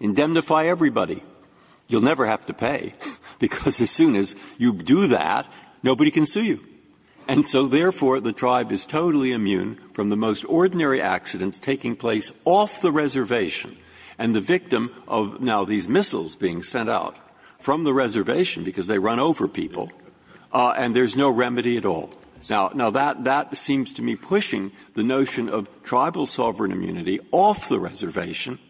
indemnify everybody. You'll never have to pay, because as soon as you do that, nobody can sue you. And so, therefore, the tribe is totally immune from the most ordinary accidents taking place off the reservation, and the victim of, now, these missiles being sent out from the reservation, because they run over people, and there's no remedy at all. Now, that seems to me pushing the notion of tribal sovereign immunity off the reservation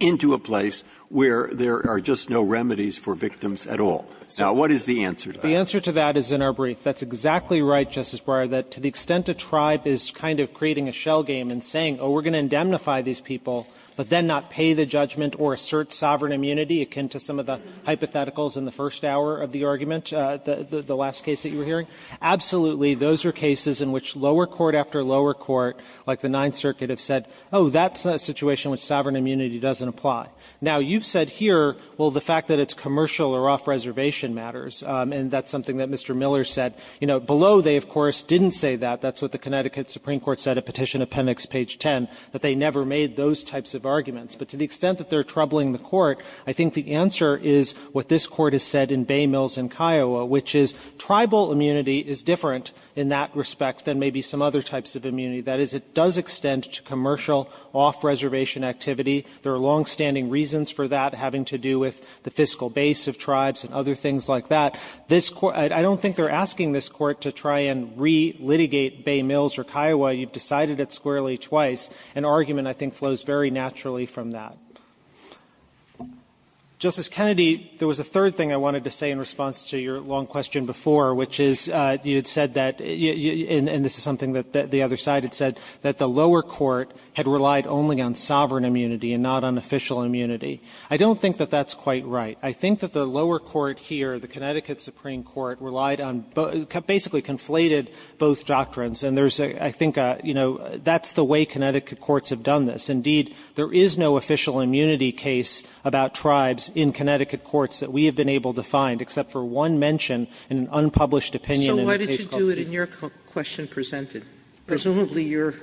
into a place where there are just no remedies for victims at all. Now, what is the answer to that? The answer to that is in our brief. That's exactly right, Justice Breyer, that to the extent a tribe is kind of creating a shell game and saying, oh, we're going to indemnify these people, but then not pay the judgment or assert sovereign immunity, akin to some of the hypotheticals in the first hour of the argument, the last case that you were hearing, absolutely, those are cases in which lower court after lower court, like the Ninth Circuit, have said, oh, that's a situation which sovereign immunity doesn't apply. Now, you've said here, well, the fact that it's commercial or off-reservation matters, and that's something that Mr. Miller said. You know, below, they, of course, didn't say that. That's what the Connecticut Supreme Court said at Petition Appendix page 10, that they never made those types of arguments. But to the extent that they're troubling the Court, I think the answer is what this Court has said in Bay Mills and Kiowa, which is tribal immunity is different in that respect than maybe some other types of immunity. That is, it does extend to commercial off-reservation activity. There are longstanding reasons for that having to do with the fiscal base of tribes and other things like that. This Court – I don't think they're asking this Court to try and re-litigate Bay Mills or Kiowa. You've decided it squarely twice. An argument, I think, flows very naturally from that. Justice Kennedy, there was a third thing I wanted to say in response to your long question before, which is you had said that – and this is something that the other side had said – that the lower court had relied only on sovereign immunity and not on official immunity. I don't think that that's quite right. I think that the lower court here, the Connecticut Supreme Court, relied on – basically conflated both doctrines. And there's a – I think, you know, that's the way Connecticut courts have done this. Indeed, there is no official immunity case about tribes in Connecticut courts that we have been able to find, except for one mention in an unpublished opinion in the case called for. Sotomayor, so why did you do it in your question presented? Presumably, you're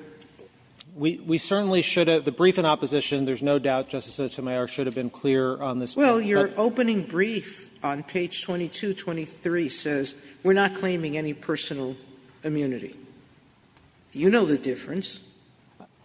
– We certainly should have – the brief in opposition, there's no doubt, Justice Sotomayor, should have been clear on this. Well, your opening brief on page 22, 23 says we're not claiming any personal immunity. You know the difference.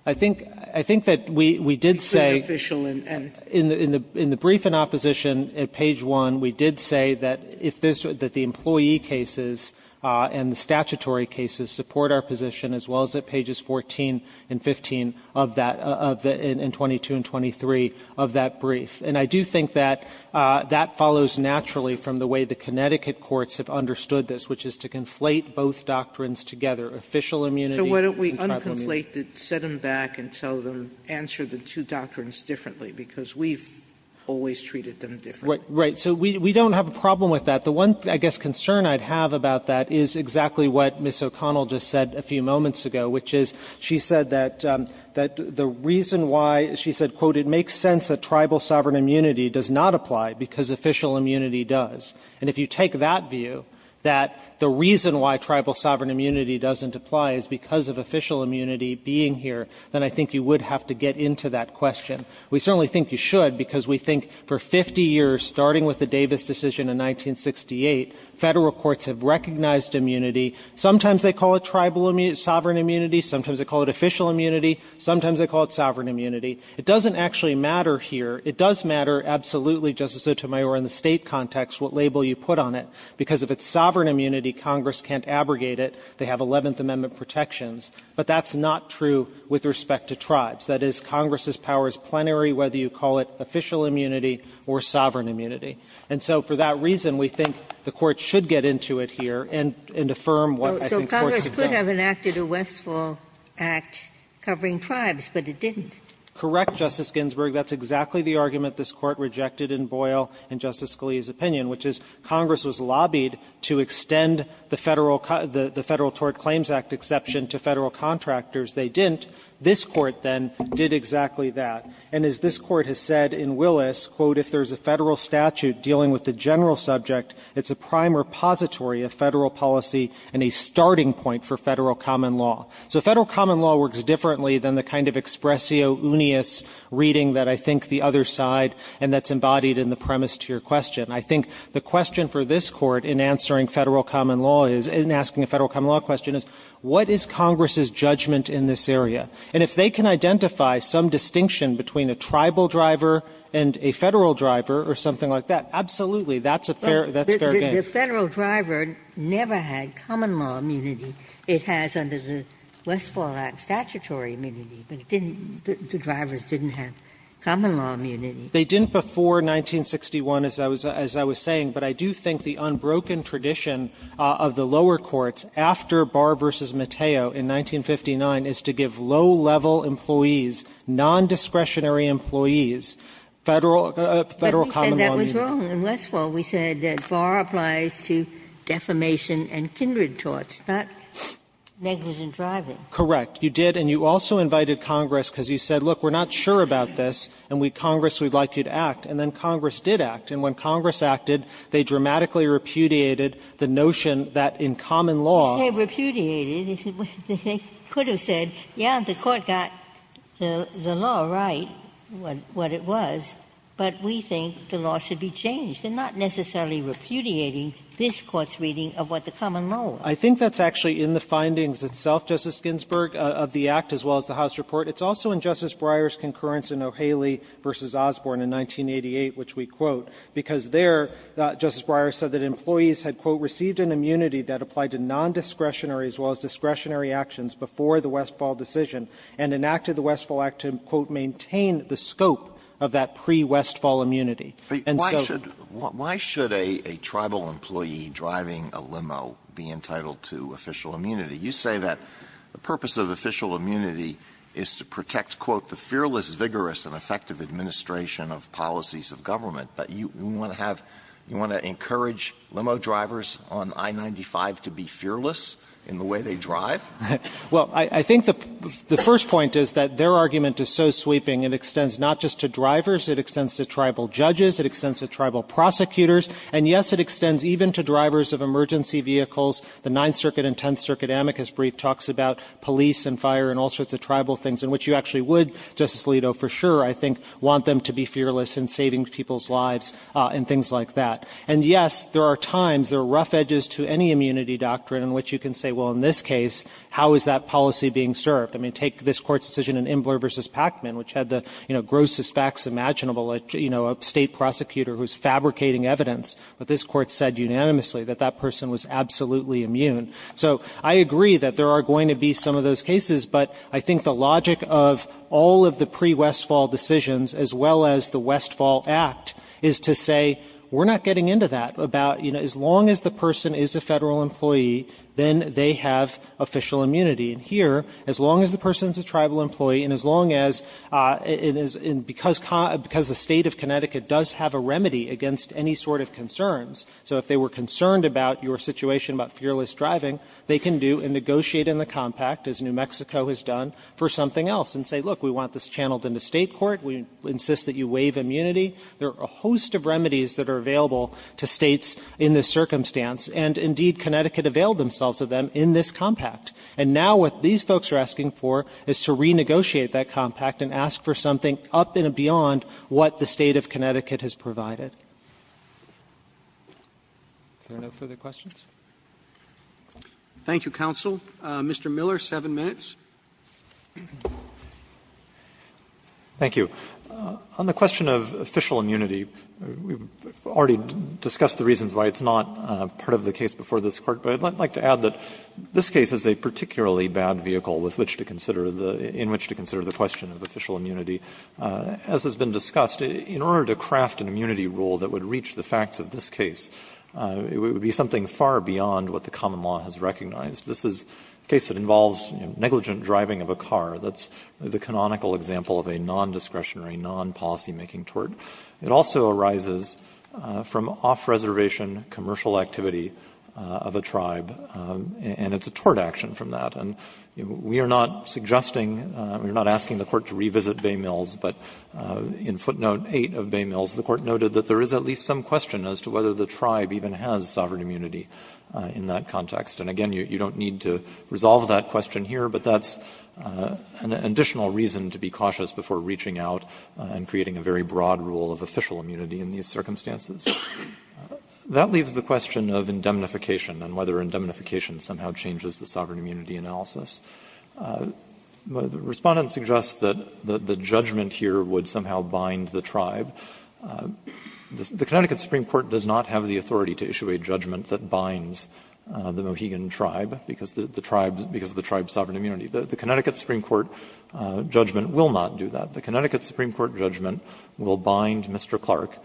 I think – I think that we did say – It's very official and – In the – in the brief in opposition at page 1, we did say that if this – that the employee cases and the statutory cases support our position, as well as at pages 14 and 15 of that – of the – and 22 and 23 of that brief. And I do think that that follows naturally from the way the Connecticut courts have understood this, which is to conflate both doctrines together, official immunity and tribal immunity. Sotomayor, so why don't we un-conflate them, set them back and tell them, answer the two doctrines differently, because we've always treated them differently. Right. So we don't have a problem with that. The one, I guess, concern I'd have about that is exactly what Ms. O'Connell just said a few moments ago, which is she said that – that the reason why she said, quote, it makes sense that tribal sovereign immunity does not apply because official immunity does. And if you take that view, that the reason why tribal sovereign immunity doesn't apply is because of official immunity being here, then I think you would have to get into that question. We certainly think you should, because we think for 50 years, starting with the Davis decision in 1968, Federal courts have recognized immunity. Sometimes they call it tribal sovereign immunity. Sometimes they call it official immunity. Sometimes they call it sovereign immunity. It doesn't actually matter here. It does matter absolutely, Justice Sotomayor, in the State context what label you put on it, because if it's sovereign immunity, Congress can't abrogate it. They have Eleventh Amendment protections. But that's not true with respect to tribes. That is, Congress's power is plenary whether you call it official immunity or sovereign immunity. And so for that reason, we think the Court should get into it here and – and affirm what I think courts have done. Ginsburg. So Congress could have enacted a Westfall Act covering tribes, but it didn't. Correct, Justice Ginsburg. That's exactly the argument this Court rejected in Boyle and Justice Scalia's opinion, which is Congress was lobbied to extend the Federal – the Federal Tort Claims Act exception to Federal contractors. They didn't. This Court, then, did exactly that. And as this Court has said in Willis, quote, if there's a Federal statute dealing with the general subject, it's a prime repository of Federal policy and a starting point for Federal common law. So Federal common law works differently than the kind of expressio unius reading that I think the other side – and that's embodied in the premise to your question. I think the question for this Court in answering Federal common law is – in asking a Federal common law question is, what is Congress's judgment in this area? And if they can identify some distinction between a tribal driver and a Federal driver or something like that, absolutely, that's a fair – that's fair game. Ginsburg. The Federal driver never had common law immunity. It has under the Westfall Act statutory immunity, but it didn't – the drivers didn't have common law immunity. They didn't before 1961, as I was – as I was saying. But I do think the unbroken tradition of the lower courts, after Barr v. Mateo in 1959, is to give low-level employees, nondiscretionary employees, Federal common law immunity. But we said that was wrong. In Westfall, we said that Barr applies to defamation and kindred torts, not negligent driving. Correct. You did, and you also invited Congress because you said, look, we're not sure about this, and we – Congress, we'd like you to act. And then Congress did act. And when Congress acted, they dramatically repudiated the notion that in common law – They repudiated. They could have said, yes, the Court got the law right, what it was, but we think the law should be changed, and not necessarily repudiating this Court's reading of what the common law was. I think that's actually in the findings itself, Justice Ginsburg, of the Act as well as the House report. It's also in Justice Breyer's concurrence in O'Haley v. Osborne in 1988, which we quote, because there Justice Breyer said that employees had, quote, received an immunity that applied to nondiscretionary as well as discretionary actions before the Westfall decision and enacted the Westfall Act to, quote, maintain the scope of that pre-Westfall immunity. And so – But why should – why should a tribal employee driving a limo be entitled to official immunity? You say that the purpose of official immunity is to protect, quote, the fearless, vigorous, and effective administration of policies of government. But you want to have – you want to encourage limo drivers on I-95 to be fearless in the way they drive? Well, I think the first point is that their argument is so sweeping. It extends not just to drivers. It extends to tribal judges. It extends to tribal prosecutors. And, yes, it extends even to drivers of emergency vehicles. The Ninth Circuit and Tenth Circuit amicus brief talks about police and fire and all sorts of tribal things, in which you actually would, Justice Alito, for sure, I think, want them to be fearless in saving people's lives and things like that. And, yes, there are times, there are rough edges to any immunity doctrine in which you can say, well, in this case, how is that policy being served? I mean, take this Court's decision in Imbler v. Pacman, which had the, you know, grossest facts imaginable, you know, a state prosecutor who's fabricating evidence, but this Court said unanimously that that person was absolutely immune. So, I agree that there are going to be some of those cases, but I think the logic of all of the pre-Westfall decisions, as well as the Westfall Act, is to say, we're not getting into that, about, you know, as long as the person is a Federal employee, then they have official immunity. And here, as long as the person's a Tribal employee, and as long as it is because the State of Connecticut does have a remedy against any sort of concerns, so if they were concerned about your situation about fearless driving, they can do and negotiate in the compact, as New Mexico has done, for something else, and say, look, we want this channeled into State court, we insist that you waive immunity. There are a host of remedies that are available to States in this circumstance, and, indeed, Connecticut availed themselves of them in this compact. And now what these folks are asking for is to renegotiate that compact and ask for something up in and beyond what the State of Connecticut has provided. Are there no further questions? Roberts, Mr. Miller, seven minutes. Miller, thank you. On the question of official immunity, we've already discussed the reasons why it's not part of the case before this Court, but I'd like to add that this case is a particularly bad vehicle with which to consider the — in which to consider the question of official immunity. As has been discussed, in order to craft an immunity rule that would reach the facts of this case, it would be something far beyond what the common law has recognized. This is a case that involves negligent driving of a car. That's the canonical example of a nondiscretionary, non-policymaking tort. It also arises from off-reservation commercial activity of a tribe, and it's a tort action from that. And we are not suggesting, we are not asking the Court to revisit Baymills, but in footnote 8 of Baymills, the Court noted that there is at least some question as to whether the tribe even has sovereign immunity in that context. And again, you don't need to resolve that question here, but that's an additional reason to be cautious before reaching out and creating a very broad rule of official immunity in these circumstances. That leaves the question of indemnification and whether indemnification somehow changes the sovereign immunity analysis. The Respondent suggests that the judgment here would somehow bind the tribe. It's not a judgment that binds the Mohegan tribe because of the tribe's sovereign immunity. The Connecticut Supreme Court judgment will not do that. The Connecticut Supreme Court judgment will bind Mr. Clark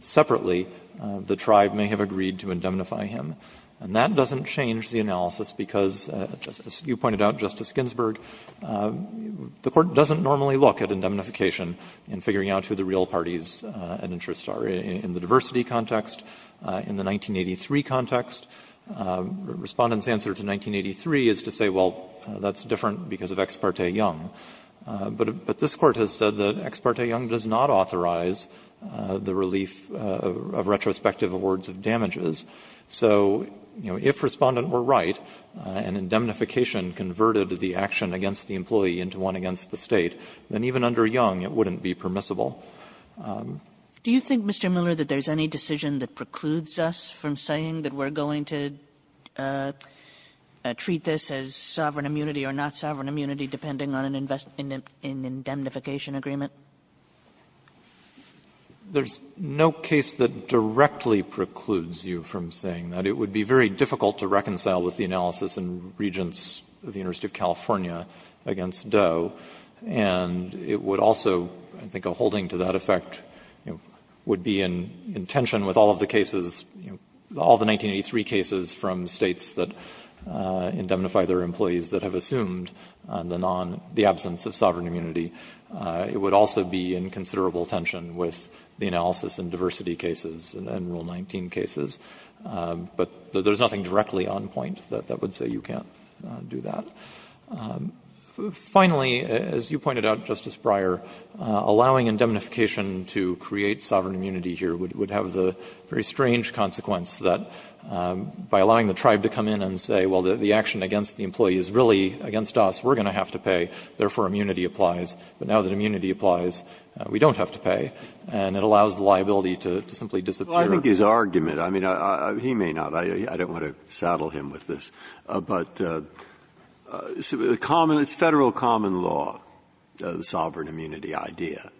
separately. The tribe may have agreed to indemnify him. And that doesn't change the analysis because, as you pointed out, Justice Ginsburg, the Court doesn't normally look at indemnification in figuring out who the real parties and interests are, in the diversity context, in the 1983 context. Respondent's answer to 1983 is to say, well, that's different because of Ex parte Young. But this Court has said that Ex parte Young does not authorize the relief of retrospective awards of damages. So, you know, if Respondent were right and indemnification converted the action against the employee into one against the State, then even under Young it wouldn't be permissible. Kagan. Do you think, Mr. Miller, that there's any decision that precludes us from saying that we're going to treat this as sovereign immunity or not sovereign immunity depending on an indemnification agreement? Miller. There's no case that directly precludes you from saying that. It would be very difficult to reconcile with the analysis in Regents of the University of California against Doe. And it would also, I think, a holding to that effect, you know, would be in tension with all of the cases, you know, all the 1983 cases from States that indemnify their employees that have assumed the absence of sovereign immunity. It would also be in considerable tension with the analysis in diversity cases and Rule 19 cases. But there's nothing directly on point that would say you can't do that. Finally, as you pointed out, Justice Breyer, allowing indemnification to create sovereign immunity here would have the very strange consequence that by allowing the tribe to come in and say, well, the action against the employee is really against us, we're going to have to pay, therefore immunity applies. But now that immunity applies, we don't have to pay, and it allows the liability to simply disappear. Breyer. Well, I think his argument, I mean, he may not. I don't want to saddle him with this. But the common, it's Federal common law, the sovereign immunity idea.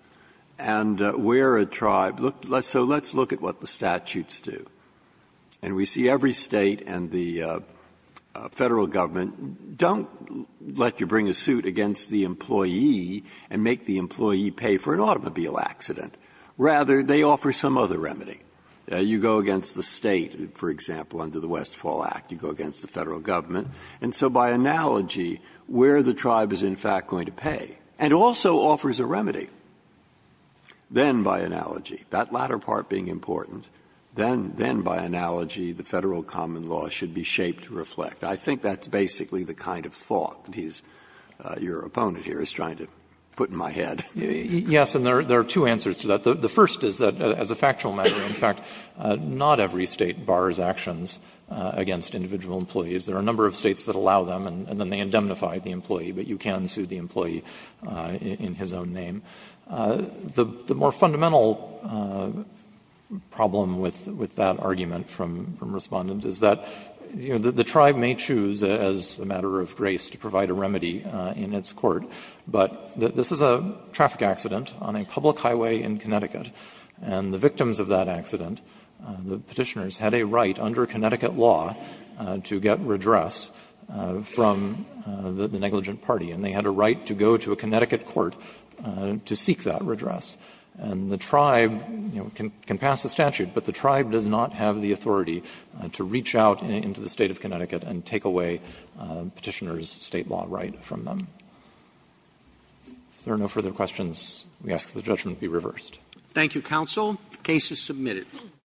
And where a tribe looks, so let's look at what the statutes do. And we see every State and the Federal Government don't let you bring a suit against the employee and make the employee pay for an automobile accident. Rather, they offer some other remedy. You go against the State, for example, under the Westfall Act. You go against the Federal Government. And so by analogy, where the tribe is in fact going to pay, and also offers a remedy, then by analogy, that latter part being important, then by analogy the Federal common law should be shaped to reflect. I think that's basically the kind of thought that he's, your opponent here, is trying to put in my head. Yes, and there are two answers to that. The first is that as a factual matter, in fact, not every State bars actions against individual employees. There are a number of States that allow them, and then they indemnify the employee, but you can sue the employee in his own name. The more fundamental problem with that argument from Respondent is that, you know, the tribe may choose as a matter of grace to provide a remedy in its court, but this is a traffic accident on a public highway in Connecticut. And the victims of that accident, the Petitioners, had a right under Connecticut law to get redress from the negligent party, and they had a right to go to a Connecticut court to seek that redress. And the tribe, you know, can pass a statute, but the tribe does not have the authority to reach out into the State of Connecticut and take away Petitioners' State law right from them. If there are no further questions, we ask that the judgment be reversed. Thank you, Counsel. The case is submitted.